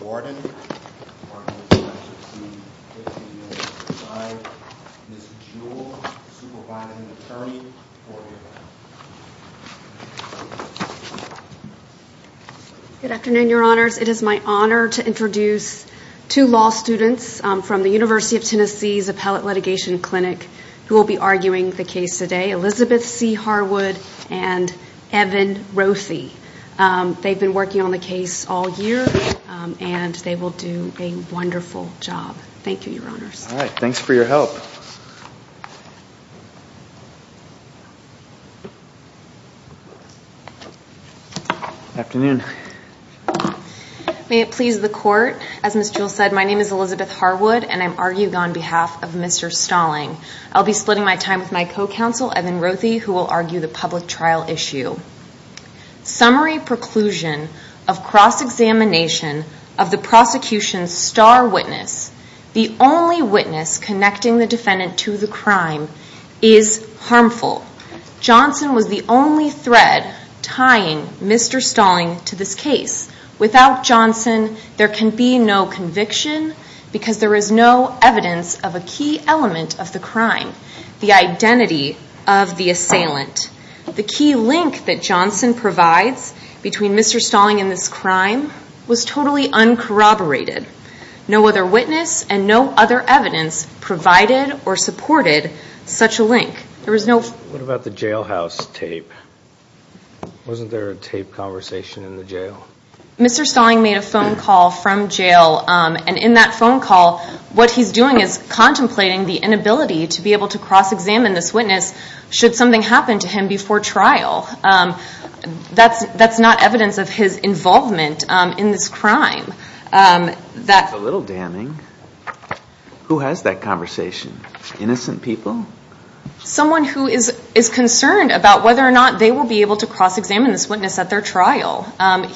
Warden. Good afternoon, your honors. It is my honor to introduce two law students from the University of Tennessee's Appellate Litigation Clinic who will be arguing the case today. Elizabeth C. Harwood and Evan Roethi. They've been working on the case all year and they will do a wonderful job. Thank you, your honors. All right. Thanks for your help. May it please the court. As Ms. Jewell said, my name is Elizabeth Harwood and I'm arguing on behalf of Mr. Stalling. I'll be splitting my time with my co-counsel, Evan Roethi, who will argue the public trial issue. Summary preclusion of cross-examination of the prosecution's star witness, the only witness connecting the defendant to the crime, is harmful. Johnson was the only thread tying Mr. Stalling to this case. Without Johnson, there can be no conviction because there is no evidence of a key element of the crime, the identity of the assailant. The key link that Johnson provides between Mr. Stalling and this crime was totally uncorroborated. No other witness and no other evidence provided or supported such a link. What about the jailhouse tape? Wasn't there a tape conversation in the jail? Mr. Stalling made a phone call from jail and in that phone call, what he's doing is contemplating the inability to be able to cross-examine this witness should something happen to him before trial. That's not evidence of his involvement in this crime. That's a little damning. Who has that conversation? Innocent people? Someone who is concerned about whether or not they will be able to cross-examine this witness at their trial.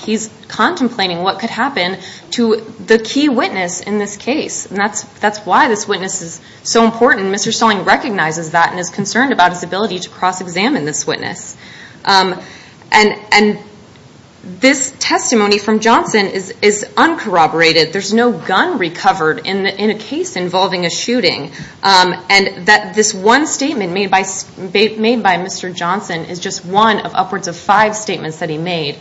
He's contemplating what could happen to the key witness in this case. That's why this witness is so important. Mr. Stalling recognizes that and is concerned about his ability to cross-examine this witness. This one statement made by Mr. Johnson is just one of upwards of five statements that he made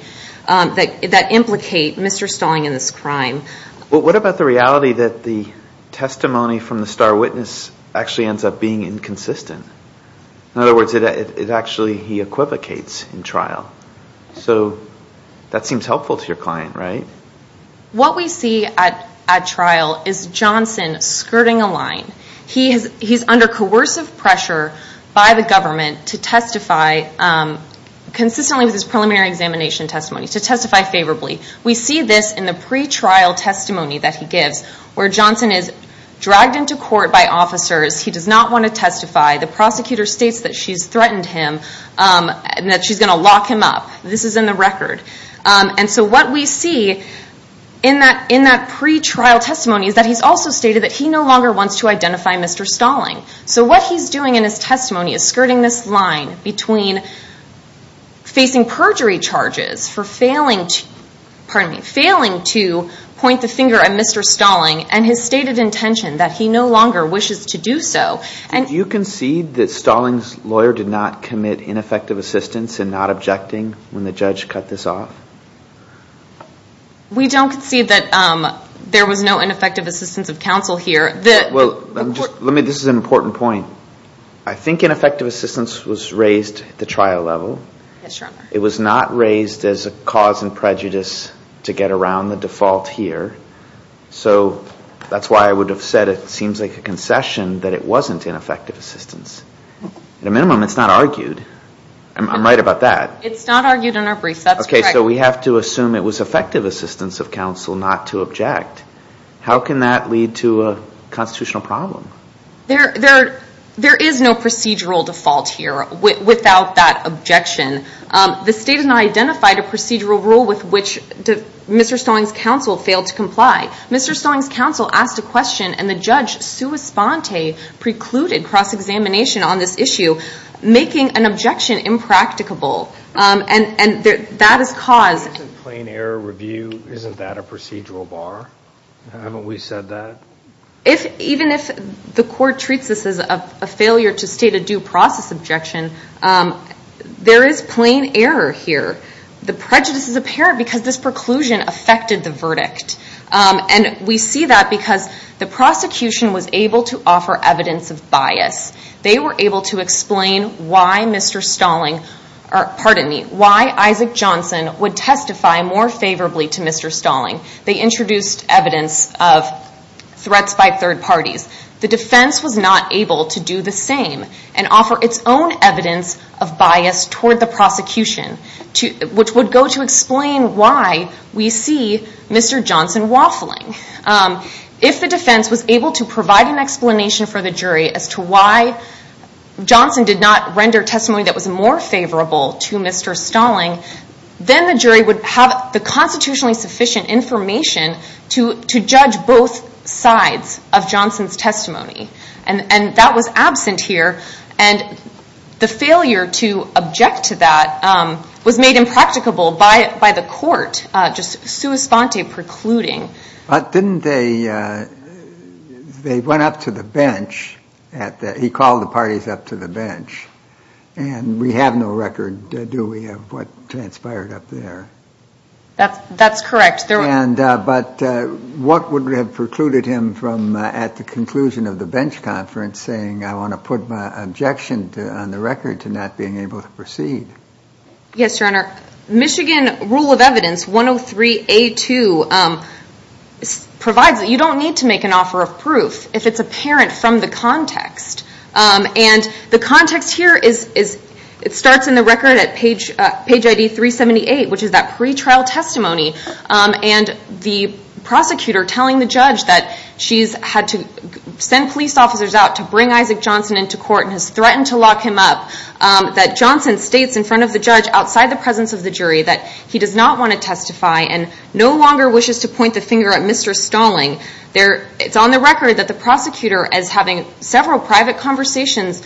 that implicate Mr. Stalling in this crime. What about the reality that the testimony from the star witness actually ends up being inconsistent? In other words, he equivocates in trial. That seems helpful to your client, right? What we see at trial is Johnson skirting a line. He's under coercive pressure by the government to testify consistently with his preliminary examination testimony, to testify favorably. We see this in the pre-trial testimony that he gives, where Johnson is dragged into court by officers. He does not want to testify. The prosecutor states that she's threatened him and that she's going to lock him up. This is in the record. What we see in that pre-trial testimony is that he's also stated that he no longer wants to identify Mr. Stalling. What he's doing in his testimony is skirting this line between facing perjury charges for failing to point the finger at Mr. Stalling and his stated intention that he no longer wishes to do so. You concede that Stalling's lawyer did not commit ineffective assistance in not objecting when the judge cut this off? We don't concede that there was no ineffective assistance of counsel here. This is an important point. I think ineffective assistance was raised at the trial level. It was not raised as a cause and prejudice to get around the default here. That's why I would have said it seems like a concession that it wasn't ineffective assistance. At a minimum, it's not argued. I'm right about that. It's not argued in our brief. That's correct. We have to assume it was effective assistance of counsel not to object. How can that lead to a constitutional problem? There is no procedural default here without that objection. The state has not identified a procedural rule with which Mr. Stalling's counsel failed to comply. Mr. Stalling's counsel asked a question and the judge, sua sponte, precluded cross-examination on this issue, making an objection impracticable. That is caused... Isn't plain error review, isn't that a procedural bar? Haven't we said that? Even if the court treats this as a failure to state a due process objection, there is plain error here. The prejudice is apparent because this preclusion affected the verdict. We see that because the prosecution was able to offer evidence of bias. They were able to explain why Mr. Stalling, pardon me, why Isaac Johnson would testify more favorably to Mr. Stalling. They introduced evidence of threats by third parties. The defense was not able to do the same and offer its own evidence of bias toward the prosecution, which would go to explain why we see Mr. Johnson waffling. If the defense was able to provide an explanation for the jury as to why Johnson did not render testimony that was more favorable to Mr. Stalling, then the jury would have the constitutionally sufficient information to judge both sides of Johnson's testimony. And that was absent here. And the failure to object to that was made impracticable by the court, just sua sponte precluding. But didn't they, they went up to the bench at the, he called the parties up to the bench. And we have no record, do we, of what transpired up there? That's correct. And, but what would have precluded him from at the conclusion of the bench conference saying I want to put my objection on the record to not being able to proceed? Yes, your honor. Michigan rule of evidence 103A2 provides that you don't need to make an offer of proof if it's apparent from the context. And the context here is, it starts in the record at page ID 378, which is that pretrial testimony. And the prosecutor telling the judge that she's had to send police officers out to bring Isaac Johnson into court and was threatened to lock him up. That Johnson states in front of the judge outside the presence of the jury that he does not want to testify and no longer wishes to point the finger at Mr. Stalling. There, it's on the record that the prosecutor is having several private conversations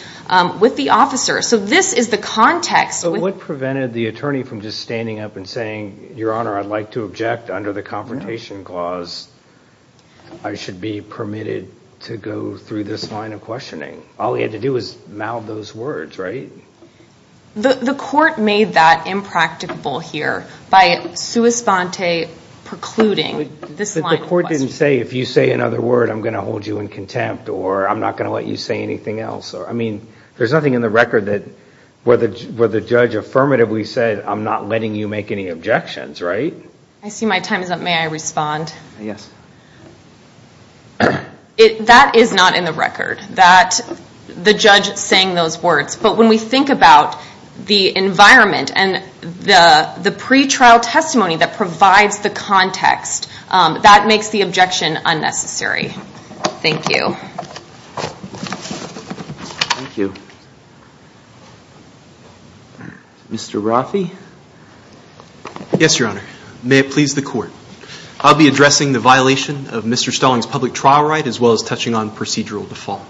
with the officer. So this is the context. But what prevented the attorney from just standing up and saying, your honor, I'd like to object under the confrontation clause. I should be permitted to go through this line of questioning. All he had to do was mouth those words, right? The court made that impracticable here by sua sponte precluding this line of questioning. But the court didn't say, if you say another word, I'm going to hold you in contempt, or I'm not going to let you say anything else. I mean, there's nothing in the record where the judge affirmatively said, I'm not letting you make any objections, right? I see my time is up. May I respond? Yes. That is not in the record, the judge saying those words. But when we think about the environment and the pre-trial testimony that provides the context, that makes the objection unnecessary. Thank you. Mr. Raffi? Yes, your honor. May it please the court. I'll be addressing the violation of Mr. Stalling's public trial right, as well as touching on procedural default.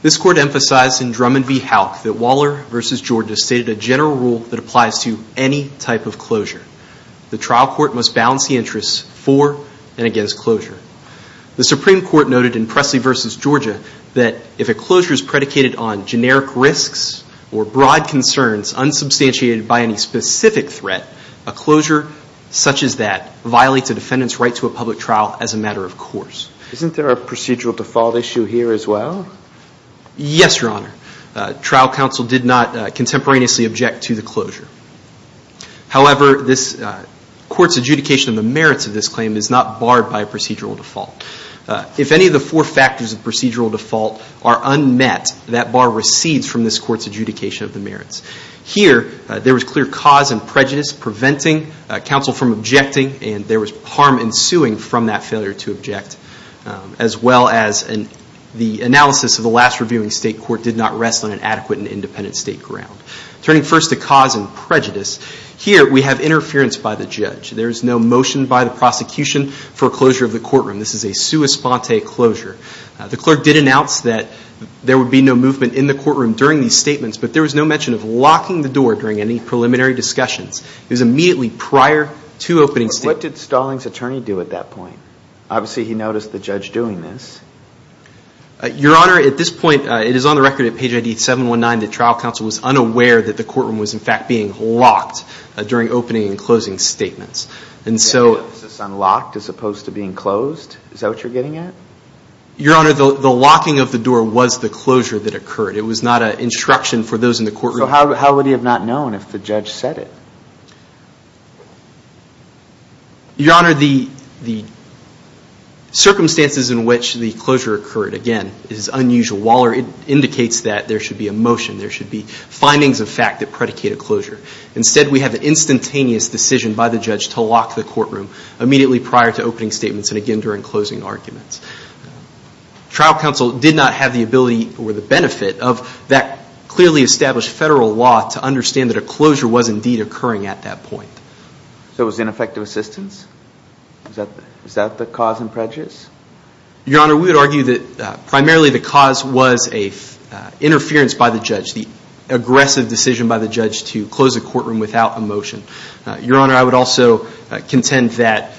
This court emphasized in Drummond v. Houck that Waller v. Georgia stated a general rule that applies to any type of closure. The trial court must balance the interests for and against closure. The Supreme Court noted in Presley v. Georgia that if a closure is predicated on generic any specific threat, a closure such as that violates a defendant's right to a public trial as a matter of course. Isn't there a procedural default issue here as well? Yes, your honor. Trial counsel did not contemporaneously object to the closure. However, this court's adjudication of the merits of this claim is not barred by a procedural default. If any of the four factors of procedural default are unmet, that bar recedes from this court's adjudication of the merits. Here, there was clear cause and prejudice preventing counsel from objecting and there was harm ensuing from that failure to object, as well as the analysis of the last reviewing state court did not rest on an adequate and independent state ground. Turning first to cause and prejudice, here we have interference by the judge. There is no motion by the prosecution for closure of the courtroom. This is a sua sponte closure. The clerk did announce that there would be no movement in the courtroom during these it was immediately prior to opening statement. What did stalling's attorney do at that point? Obviously he noticed the judge doing this. Your honor, at this point it is on the record at page 719 that trial counsel was unaware that the courtroom was in fact being locked during opening and closing statements. And so. It's unlocked as opposed to being closed? Is that what you're getting at? Your honor, the locking of the door was the closure that occurred. It was not an instruction for those in the courtroom. So how would he have not known if the judge said it? Your honor, the circumstances in which the closure occurred, again, is unusual. Waller indicates that there should be a motion. There should be findings of fact that predicate a closure. Instead we have an instantaneous decision by the judge to lock the courtroom immediately prior to opening statements and again during closing arguments. Trial counsel did not have the ability or the benefit of that clearly established federal law to understand that a closure was indeed occurring at that point. So it was ineffective assistance? Is that the cause and prejudice? Your honor, we would argue that primarily the cause was a interference by the judge. The aggressive decision by the judge to close the courtroom without a motion. Your honor, I would also contend that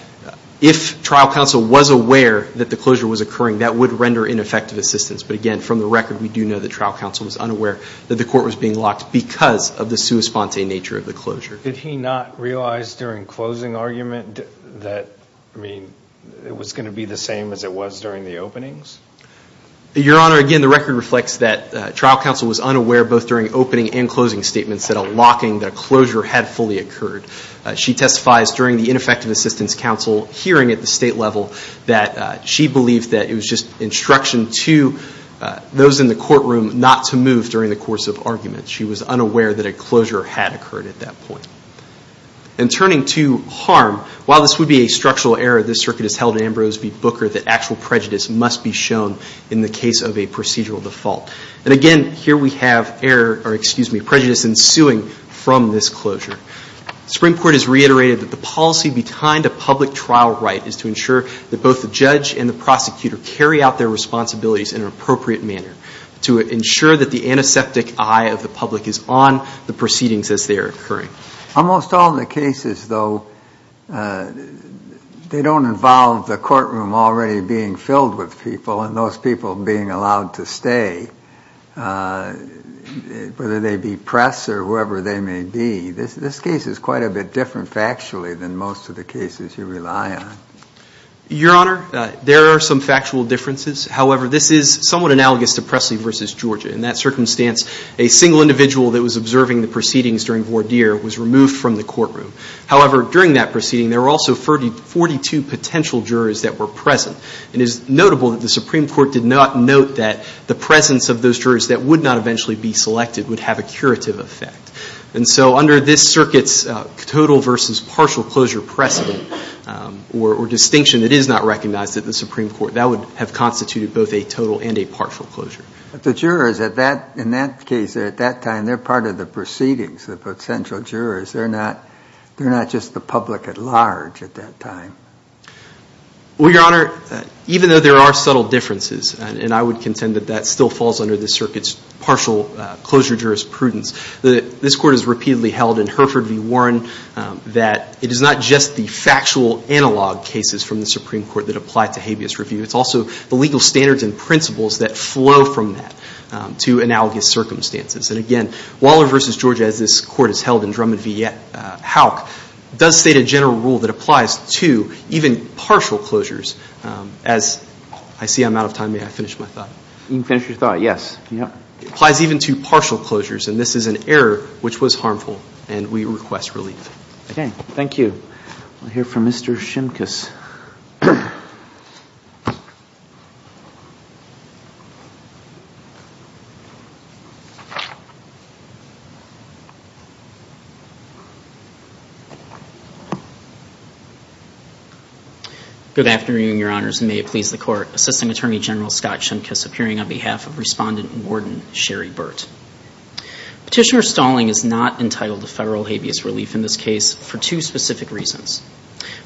if trial counsel was aware that the closure was occurring, that would render ineffective assistance. But again, from the record, we do know that trial counsel was unaware that the court was being locked because of the sua sponte nature of the closure. Did he not realize during closing argument that, I mean, it was going to be the same as it was during the openings? Your honor, again, the record reflects that trial counsel was unaware both during opening and closing statements that a locking, that a closure had fully occurred. She testifies during the ineffective assistance counsel hearing at the state level that she believed that it was just instruction to those in the courtroom not to move during the course of argument. She was unaware that a closure had occurred at that point. And turning to harm, while this would be a structural error, this circuit is held in Ambrose v. Booker that actual prejudice must be shown in the case of a procedural default. And again, here we have error, or excuse me, prejudice ensuing from this closure. Springport has reiterated that the policy behind a public trial right is to ensure that both the judge and the prosecutor carry out their responsibilities in an appropriate manner to ensure that the antiseptic eye of the public is on the proceedings as they are occurring. Almost all the cases though, they don't involve the courtroom already being filled with people and those people being allowed to stay, whether they be press or whoever they may be. This case is quite a bit different factually than most of the cases you rely on. Your Honor, there are some factual differences. However, this is somewhat analogous to Presley v. Georgia. In that circumstance, a single individual that was observing the proceedings during Vordeer was removed from the courtroom. However, during that proceeding, there were also 42 potential jurors that were present. It is notable that the Supreme Court did not note that the presence of those jurors that would not eventually be selected would have a curative effect. And so under this circuit's total versus partial closure precedent or distinction, it is not recognized that the Supreme Court, that would have constituted both a total and a partial closure. But the jurors in that case at that time, they're part of the proceedings, the potential jurors. They're not just the public at large at that time. Well, Your Honor, even though there are subtle differences, and I would contend that that still falls under the circuit's partial closure jurisprudence, that this Court has repeatedly held in Hereford v. Warren that it is not just the factual analog cases from the Supreme Court that apply to habeas review. It's also the legal standards and principles that flow from that to analogous circumstances. And again, Waller v. Georgia, as this Court has held in Drummond v. Houck, does state a general rule that applies to even partial closures. As I see I'm out of time, may I finish my thought? You can finish your thought, yes. It applies even to partial closures. And this is an error which was harmful, and we request relief. Okay, thank you. We'll hear from Mr. Shimkus. Good afternoon, Your Honors, and may it please the Court. Assisting Attorney General Scott Shimkus appearing on behalf of Respondent Warden Sherry Burt. Petitioner Stalling is not entitled to federal habeas relief in this case for two specific reasons.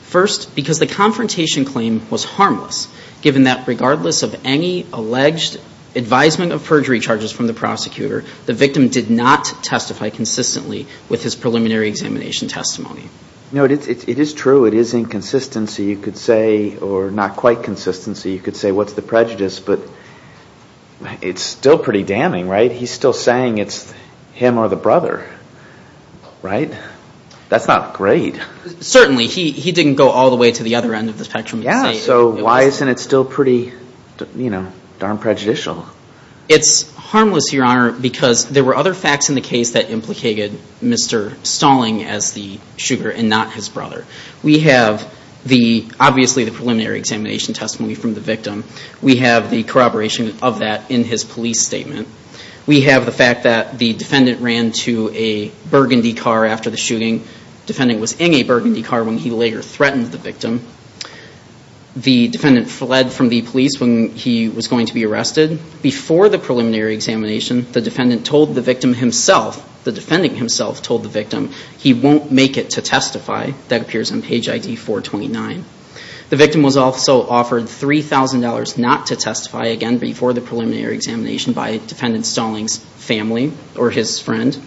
First, because the confrontation claim was harmless, given that regardless of any alleged advisement of perjury charges from the prosecutor, the victim did not testify consistently with his preliminary examination testimony. No, it is true. It is inconsistency, you could say, or not quite consistency. You could say what's the prejudice, but it's still pretty damning, right? He's still saying it's him or the brother, right? That's not great. Certainly, he didn't go all the way to the other end of the spectrum. Yeah, so why isn't it still pretty, you know, darn prejudicial? It's harmless, Your Honor, because there were other facts in the case that implicated Mr. Stalling as the shooter and not his brother. We have the, obviously, the preliminary examination testimony from the victim. We have the corroboration of that in his police statement. We have the fact that the defendant ran to a burgundy car after the shooting. Defendant was in a burgundy car when he later threatened the victim. The defendant fled from the police when he was going to be arrested. Before the preliminary examination, the defendant told the victim himself, the defending himself told the victim, he won't make it to testify. That appears on page ID 429. The victim was also offered $3,000 not to testify again before the preliminary examination by Defendant Stalling's family or his friend.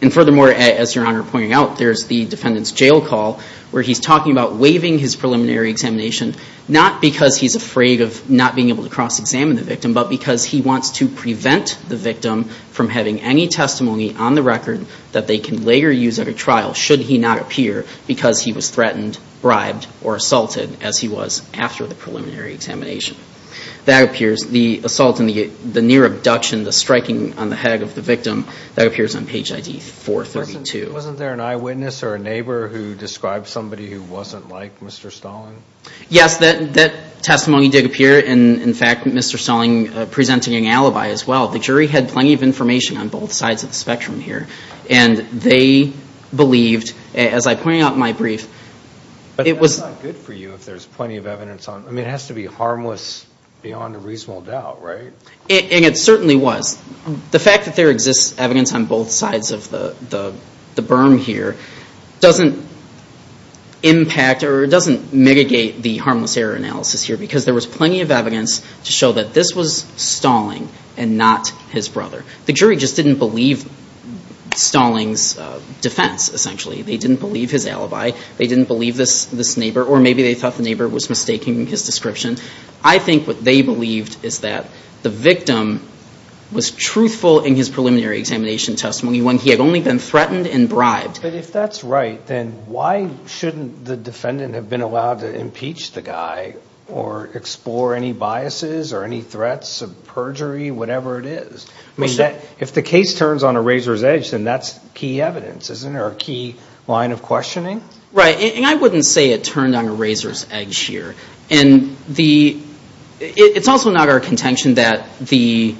And furthermore, as Your Honor pointed out, there's the defendant's jail call where he's talking about waiving his preliminary examination, not because he's afraid of not being able to cross-examine the victim, but because he wants to prevent the victim from having any testimony on the record that they can later use at a trial, should he not appear because he was threatened, bribed, or assaulted as he was after the preliminary examination. That appears, the assault and the near abduction, the striking on the head of the victim, that appears on page ID 432. Wasn't there an eyewitness or a neighbor who described somebody who wasn't like Mr. Stalling? Yes, that testimony did appear, and in fact, Mr. Stalling presented an alibi as well. The jury had plenty of information on both sides of the spectrum here, and they believed, as I pointed out in my brief, it was. But that's not good for you if there's plenty of evidence on. I mean, it has to be harmless beyond a reasonable doubt, right? And it certainly was. The fact that there exists evidence on both sides of the berm here doesn't impact or it doesn't mitigate the harmless error analysis here, because there was plenty of evidence to show that this was Stalling and not his brother. The jury just didn't believe Stalling's defense, essentially. They didn't believe his alibi. They didn't believe this neighbor, or maybe they thought the neighbor was mistaking his description. I think what they believed is that the victim was truthful in his preliminary examination testimony when he had only been threatened and bribed. But if that's right, then why shouldn't the defendant have been allowed to impeach the guy or explore any biases or any threats of perjury, whatever it is? I mean, if the case turns on a razor's edge, then that's key evidence, isn't it, or a key line of questioning? Right. And I wouldn't say it turned on a razor's edge here. And it's also not our contention that the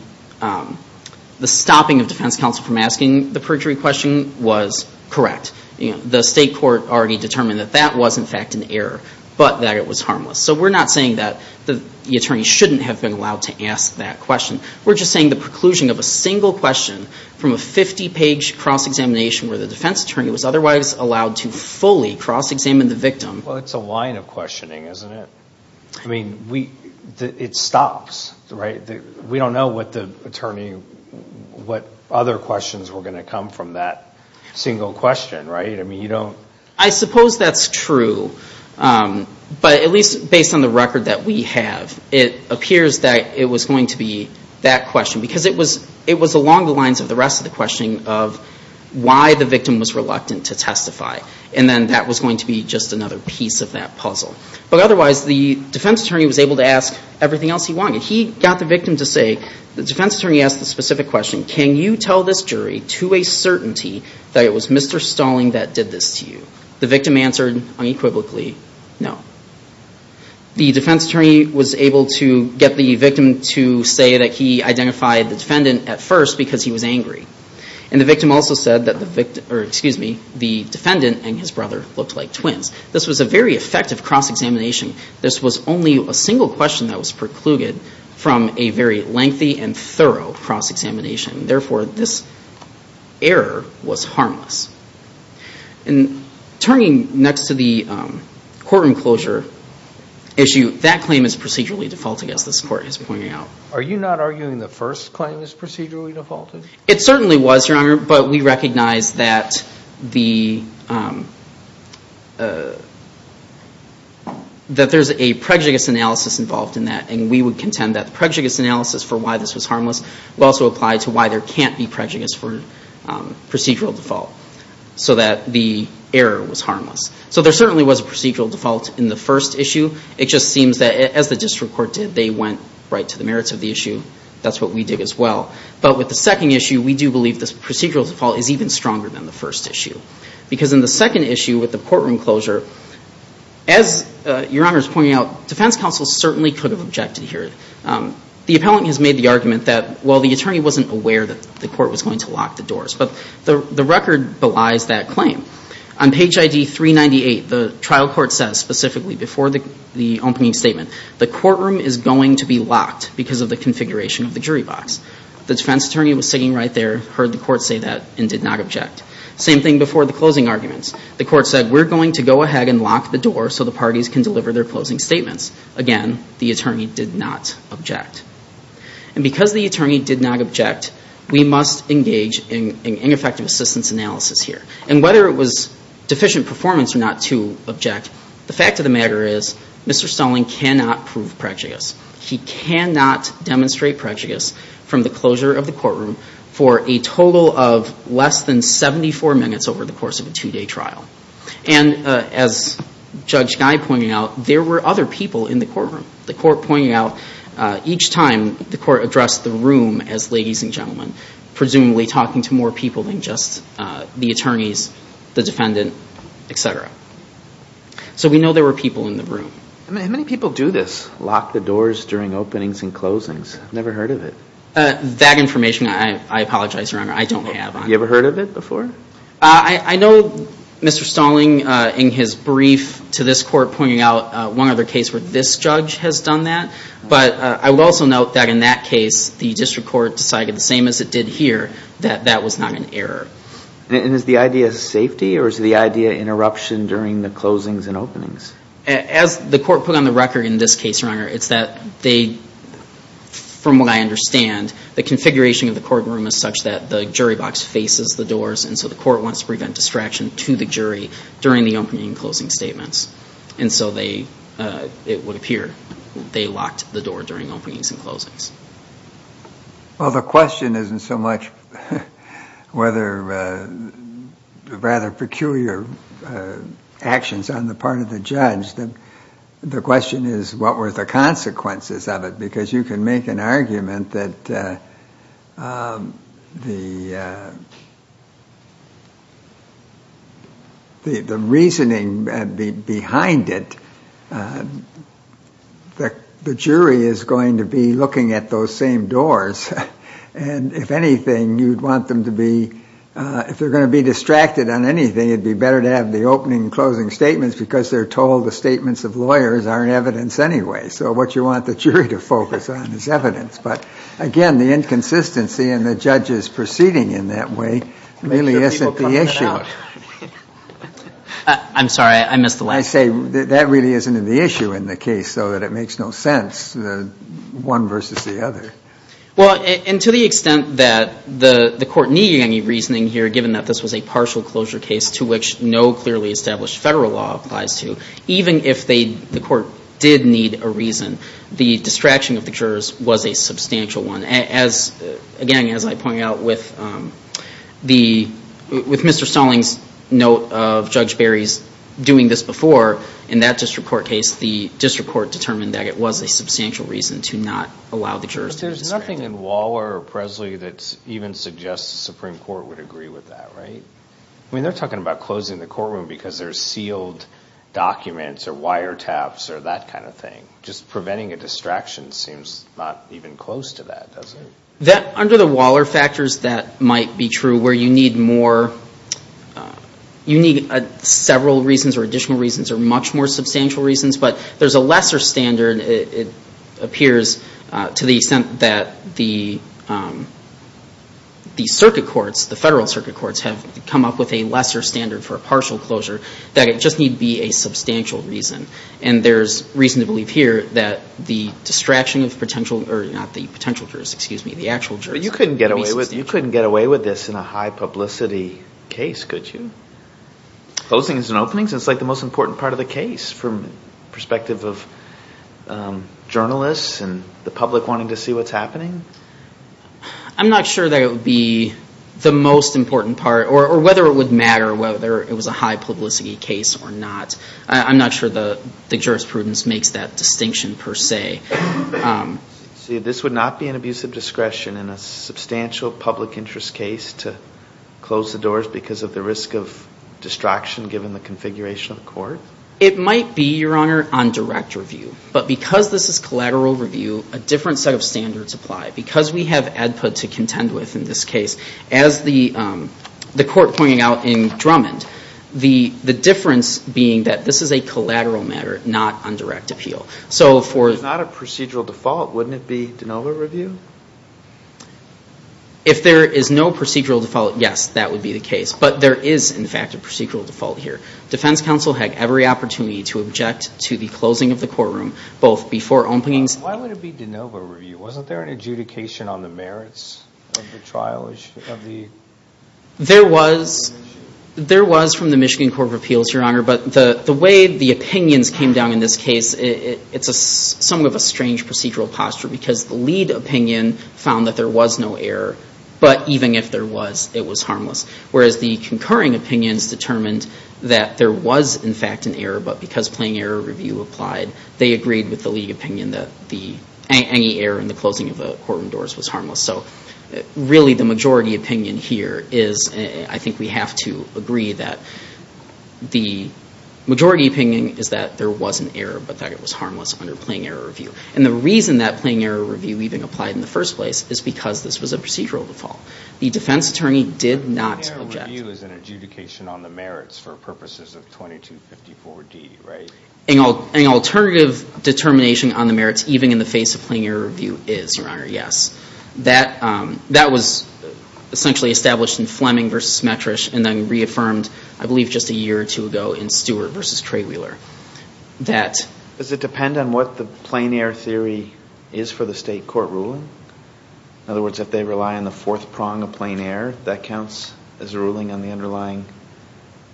stopping of defense counsel from asking the perjury question was correct. The state court already determined that that was, in fact, an error, but that it was harmless. So we're not saying that the attorney shouldn't have been allowed to ask that question. We're just saying the preclusion of a single question from a 50-page cross-examination where the defense attorney was otherwise allowed to fully cross-examine the victim. Well, it's a line of questioning, isn't it? I mean, it stops, right? We don't know what the attorney, what other questions were going to come from that single question, right? I mean, you don't... I suppose that's true, but at least based on the record that we have, it appears that it was going to be that question. Because it was along the lines of the rest of the questioning of why the victim was reluctant to testify. And then that was going to be just another piece of that puzzle. But otherwise, the defense attorney was able to ask everything else he wanted. He got the victim to say, the defense attorney asked the specific question, can you tell this jury to a certainty that it was Mr. Stalling that did this to you? The victim answered unequivocally, no. The defense attorney was able to get the victim to say that he identified the defendant at first because he was angry. And the victim also said that the victim, or excuse me, the defendant and his brother looked like twins. This was a very effective cross-examination. This was only a single question that was precluded from a very lengthy and thorough cross-examination. Therefore, this error was harmless. And turning next to the courtroom closure issue, that claim is procedurally defaulted, as this court is pointing out. Are you not arguing the first claim is procedurally defaulted? It certainly was, Your Honor. But we recognize that there's a prejudice analysis involved in that. And we would contend that prejudice analysis for why this was harmless will also apply to why there can't be prejudice for procedural default. So that the error was harmless. So there certainly was a procedural default in the first issue. It just seems that as the district court did, they went right to the merits of the issue. That's what we did as well. But with the second issue, we do believe this procedural default is even stronger than the first issue. Because in the second issue with the courtroom closure, as Your Honor is pointing out, defense counsel certainly could have objected here. The appellant has made the argument that, well, the attorney wasn't aware that the court was going to lock the doors. But the record belies that claim. On page ID 398, the trial court says specifically before the opening statement, the courtroom is going to be locked because of the configuration of the jury box. The defense attorney was sitting right there, heard the court say that, and did not object. Same thing before the closing arguments. The court said, we're going to go ahead and lock the door so the parties can deliver their closing statements. Again, the attorney did not object. And because the attorney did not object, we must engage in effective assistance analysis here. And whether it was deficient performance or not to object, the fact of the matter is Mr. Stalling cannot prove prejudice. He cannot demonstrate prejudice from the closure of the courtroom for a total of less than 74 minutes over the course of a two-day trial. And as Judge Guy pointed out, there were other people in the courtroom. The court pointed out each time the court addressed the room as ladies and gentlemen, presumably talking to more people than just the attorneys, the defendant, etc. So we know there were people in the room. How many people do this, lock the doors during openings and closings? Never heard of it. That information, I apologize, Your Honor, I don't have on me. You ever heard of it before? I know Mr. Stalling in his brief to this court pointed out one other case where this judge has done that. But I will also note that in that case, the district court decided the same as it did here that that was not an error. And is the idea safety or is the idea interruption during the closings and openings? As the court put on the record in this case, Your Honor, it's that they, from what I understand, the configuration of the courtroom is such that the jury box faces the doors and so the court wants to prevent distraction to the jury during the opening and closing statements. And so they, it would appear, they locked the door during openings and closings. Well, the question isn't so much whether rather peculiar actions on the part of the judge. The question is what were the consequences of it? Because you can make an argument that the reasoning behind it, the jury is going to be looking at those same doors. And if anything, you'd want them to be, if they're going to be distracted on anything, it'd be better to have the opening and closing statements because they're told the statements of lawyers aren't evidence anyway. So what you want the jury to focus on is evidence. But again, the inconsistency in the judges proceeding in that way really isn't the issue. I'm sorry, I missed the last part. I say that really isn't the issue in the case so that it makes no sense, one versus the other. Well, and to the extent that the court needed any reasoning here given that this was a partial closure case to which no clearly established federal law applies to, even if the court did need a reason, the distraction of the jurors was a substantial one. Again, as I point out with Mr. Stalling's note of Judge Berry's doing this before in that district court case, the district court determined that it was a substantial reason to not allow the jurors to distract. But there's nothing in Waller or Presley that even suggests the Supreme Court would agree with that, right? I mean, they're talking about closing the courtroom because there's sealed documents or wiretaps or that kind of thing. Just preventing a distraction seems not even close to that, doesn't it? That, under the Waller factors, that might be true where you need more, you need several reasons or additional reasons or much more substantial reasons. But there's a lesser standard, it appears, to the extent that the circuit courts, the federal circuit courts have come up with a lesser standard for a partial closure that it just need be a substantial reason. And there's reason to believe here that the distraction of potential, or not the potential jurors, excuse me, the actual jurors. But you couldn't get away with this in a high-publicity case, could you? Closing is an opening, so it's like the most important part of the case from perspective of journalists and the public wanting to see what's happening. I'm not sure that it would be the most important part, or whether it would matter, whether it was a high-publicity case or not. I'm not sure the jurisprudence makes that distinction per se. See, this would not be an abuse of discretion in a substantial public interest case to close the doors because of the risk of distraction given the configuration of the court? It might be, Your Honor, on direct review. But because this is collateral review, a different set of standards apply. Because we have ADPA to contend with in this case, as the court pointed out in Drummond, the difference being that this is a collateral matter, not on direct appeal. So for... If it's not a procedural default, wouldn't it be de novo review? If there is no procedural default, yes, that would be the case. But there is, in fact, a procedural default here. Defense counsel had every opportunity to object to the closing of the courtroom, both before openings... Why would it be de novo review? Wasn't there an adjudication on the merits of the trial of the... There was. There was from the Michigan Court of Appeals, Your Honor. But the way the opinions came down in this case, it's somewhat of a strange procedural posture because the lead opinion found that there was no error. But even if there was, it was harmless. Whereas the concurring opinions determined that there was, in fact, an error, but because plain error review applied, they agreed with the lead opinion that any error in the closing of the courtroom doors was harmless. So really, the majority opinion here is, I think we have to agree that the majority opinion is that there was an error, but that it was harmless under plain error review. And the reason that plain error review even applied in the first place is because this was a procedural default. The defense attorney did not object. Plain error review is an adjudication on the merits for purposes of 2254D, right? An alternative determination on the merits, even in the face of plain error review, is, Your Honor, yes. That was essentially established in Fleming versus Smetrych and then reaffirmed, I believe, just a year or two ago in Stewart versus Treywheeler. That... Does it depend on what the plain error theory is for the state court ruling? In other words, if they rely on the fourth prong of plain error, that counts as a ruling on the underlying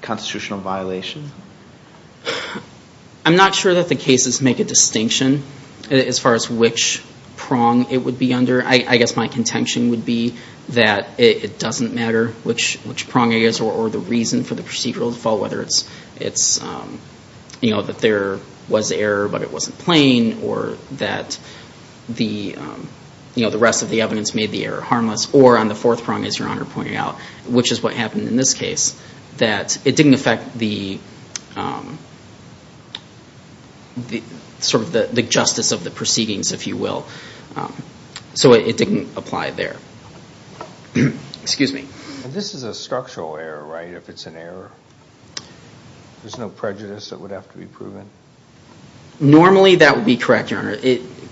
constitutional violation? I'm not sure that the cases make a distinction as far as which prong it would be under. I guess my contention would be that it doesn't matter which prong it is or the reason for the procedural default, whether it's, you know, that there was error, but it wasn't plain, or that the, you know, the rest of the evidence made the error harmless, or on the fourth prong, as Your Honor pointed out, which is what happened in this case, that it didn't affect the sort of the justice of the proceedings, if you will. So it didn't apply there. Excuse me. And this is a structural error, right, if it's an error? There's no prejudice that would have to be proven? Normally, that would be correct, Your Honor.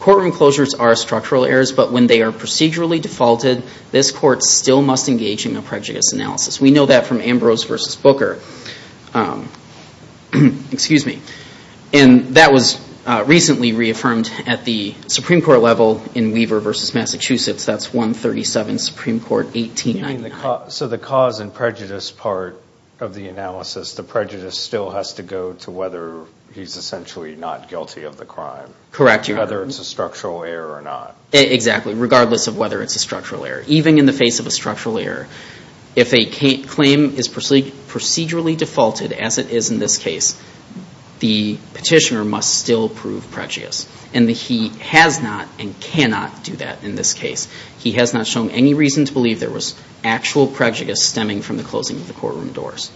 Courtroom closures are structural errors, but when they are procedurally defaulted, this court still must engage in a prejudice analysis. We know that from Ambrose v. Booker. Excuse me. And that was recently reaffirmed at the Supreme Court level in Weaver v. Massachusetts. That's 137 Supreme Court, 1899. So the cause and prejudice part of the analysis, the prejudice still has to go to whether he's essentially not guilty of the crime. Correct, Your Honor. Whether it's a structural error or not. Exactly, regardless of whether it's a structural error. Even in the face of a structural error, if a claim is procedurally defaulted as it is in this case, the petitioner must still prove prejudice. And he has not and cannot do that in this case. He has not shown any reason to believe there was actual prejudice stemming from the closing of the courtroom doors.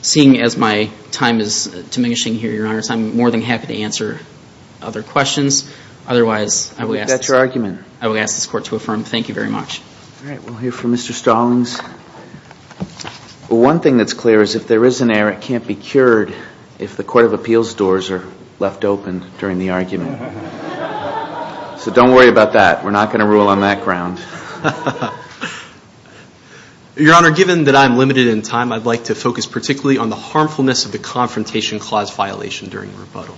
Seeing as my time is diminishing here, Your Honor, I'm more than happy to answer other questions. Otherwise, I will ask this court to affirm. Thank you very much. All right. We'll hear from Mr. Stallings. One thing that's clear is if there is an error, it can't be cured if the Court of Appeals doors are left open during the argument. So don't worry about that. We're not going to rule on that ground. Your Honor, given that I'm limited in time, I'd like to focus particularly on the harmfulness of the Confrontation Clause violation during the rebuttal.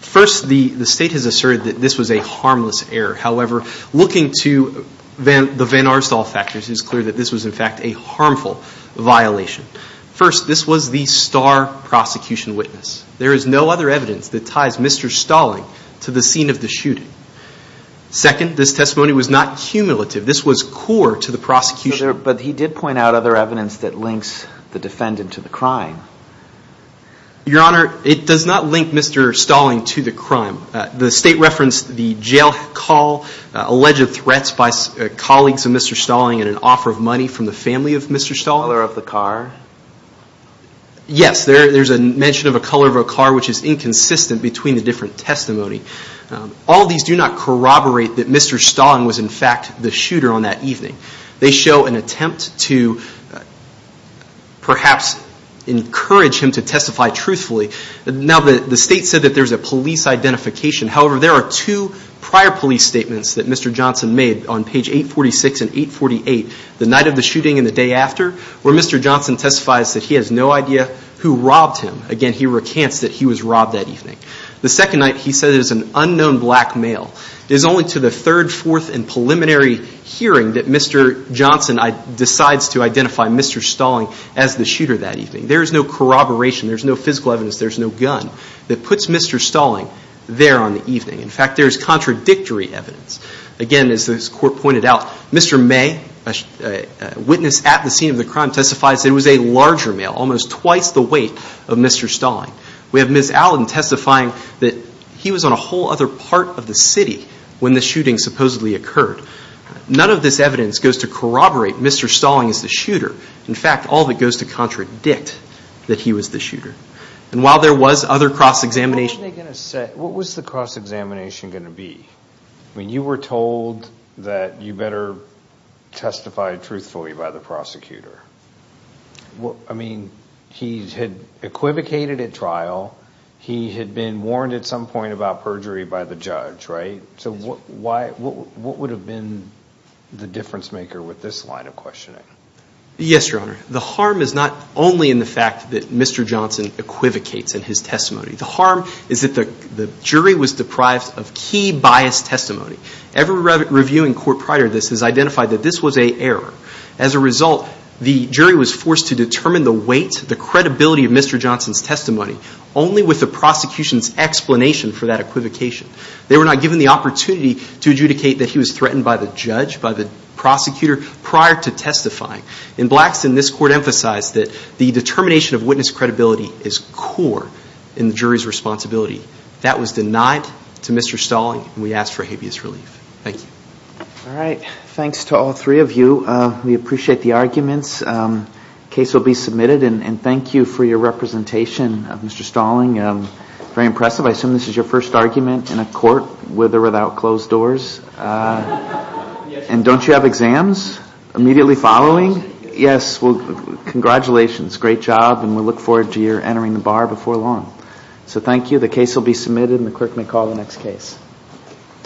First, the State has asserted that this was a harmless error. However, looking to the Van Arstal factors, it's clear that this was in fact a harmful violation. First, this was the star prosecution witness. There is no other evidence that ties Mr. Stallings to the scene of the shooting. Second, this testimony was not cumulative. This was core to the prosecution. But he did point out other evidence that links the defendant to the crime. Your Honor, it does not link Mr. Stallings to the crime. The State referenced the jail call, alleged threats by colleagues of Mr. Stallings, and an offer of money from the family of Mr. Stallings. Color of the car. Yes. There's a mention of a color of a car, which is inconsistent between the different testimony. All of these do not corroborate that Mr. Stallings was in fact the shooter on that evening. They show an attempt to perhaps encourage him to testify truthfully. Now, the State said that there's a police identification. However, there are two prior police statements that Mr. Johnson made on page 846 and 848, the night of the shooting and the day after, where Mr. Johnson testifies that he has no idea who robbed him. Again, he recants that he was robbed that evening. The second night, he said it was an unknown black male. It is only to the third, fourth, and preliminary hearing that Mr. Johnson decides to identify Mr. Stallings as the shooter that evening. There's no corroboration. There's no physical evidence. There's no gun that puts Mr. Stallings there on the evening. In fact, there's contradictory evidence. Again, as this Court pointed out, Mr. May, a witness at the scene of the crime, testifies that it was a larger male, almost twice the weight of Mr. Stallings. We have Ms. Allen testifying that he was on a whole other part of the city when the shooting supposedly occurred. None of this evidence goes to corroborate Mr. Stallings as the shooter. In fact, all of it goes to contradict that he was the shooter. And while there was other cross-examination. What was the cross-examination going to be? I mean, you were told that you better testify truthfully by the prosecutor. I mean, he had equivocated at trial. He had been warned at some point about perjury by the judge, right? So what would have been the difference maker with this line of questioning? Yes, Your Honor. The harm is not only in the fact that Mr. Johnson equivocates in his testimony. The harm is that the jury was deprived of key biased testimony. Every review in court prior to this has identified that this was an error. As a result, the jury was forced to determine the weight, the credibility of Mr. Johnson's testimony. Only with the prosecution's explanation for that equivocation. They were not given the opportunity to adjudicate that he was threatened by the judge, by the prosecutor prior to testifying. In Blackston, this court emphasized that the determination of witness credibility is core in the jury's responsibility. That was denied to Mr. Stallings and we ask for habeas relief. Thank you. All right. Thanks to all three of you. We appreciate the arguments. The case will be submitted and thank you for your representation, Mr. Stalling. Very impressive. I assume this is your first argument in a court with or without closed doors. And don't you have exams immediately following? Yes. Well, congratulations. Great job and we look forward to your entering the bar before long. So thank you. The case will be submitted and the clerk may call the next case.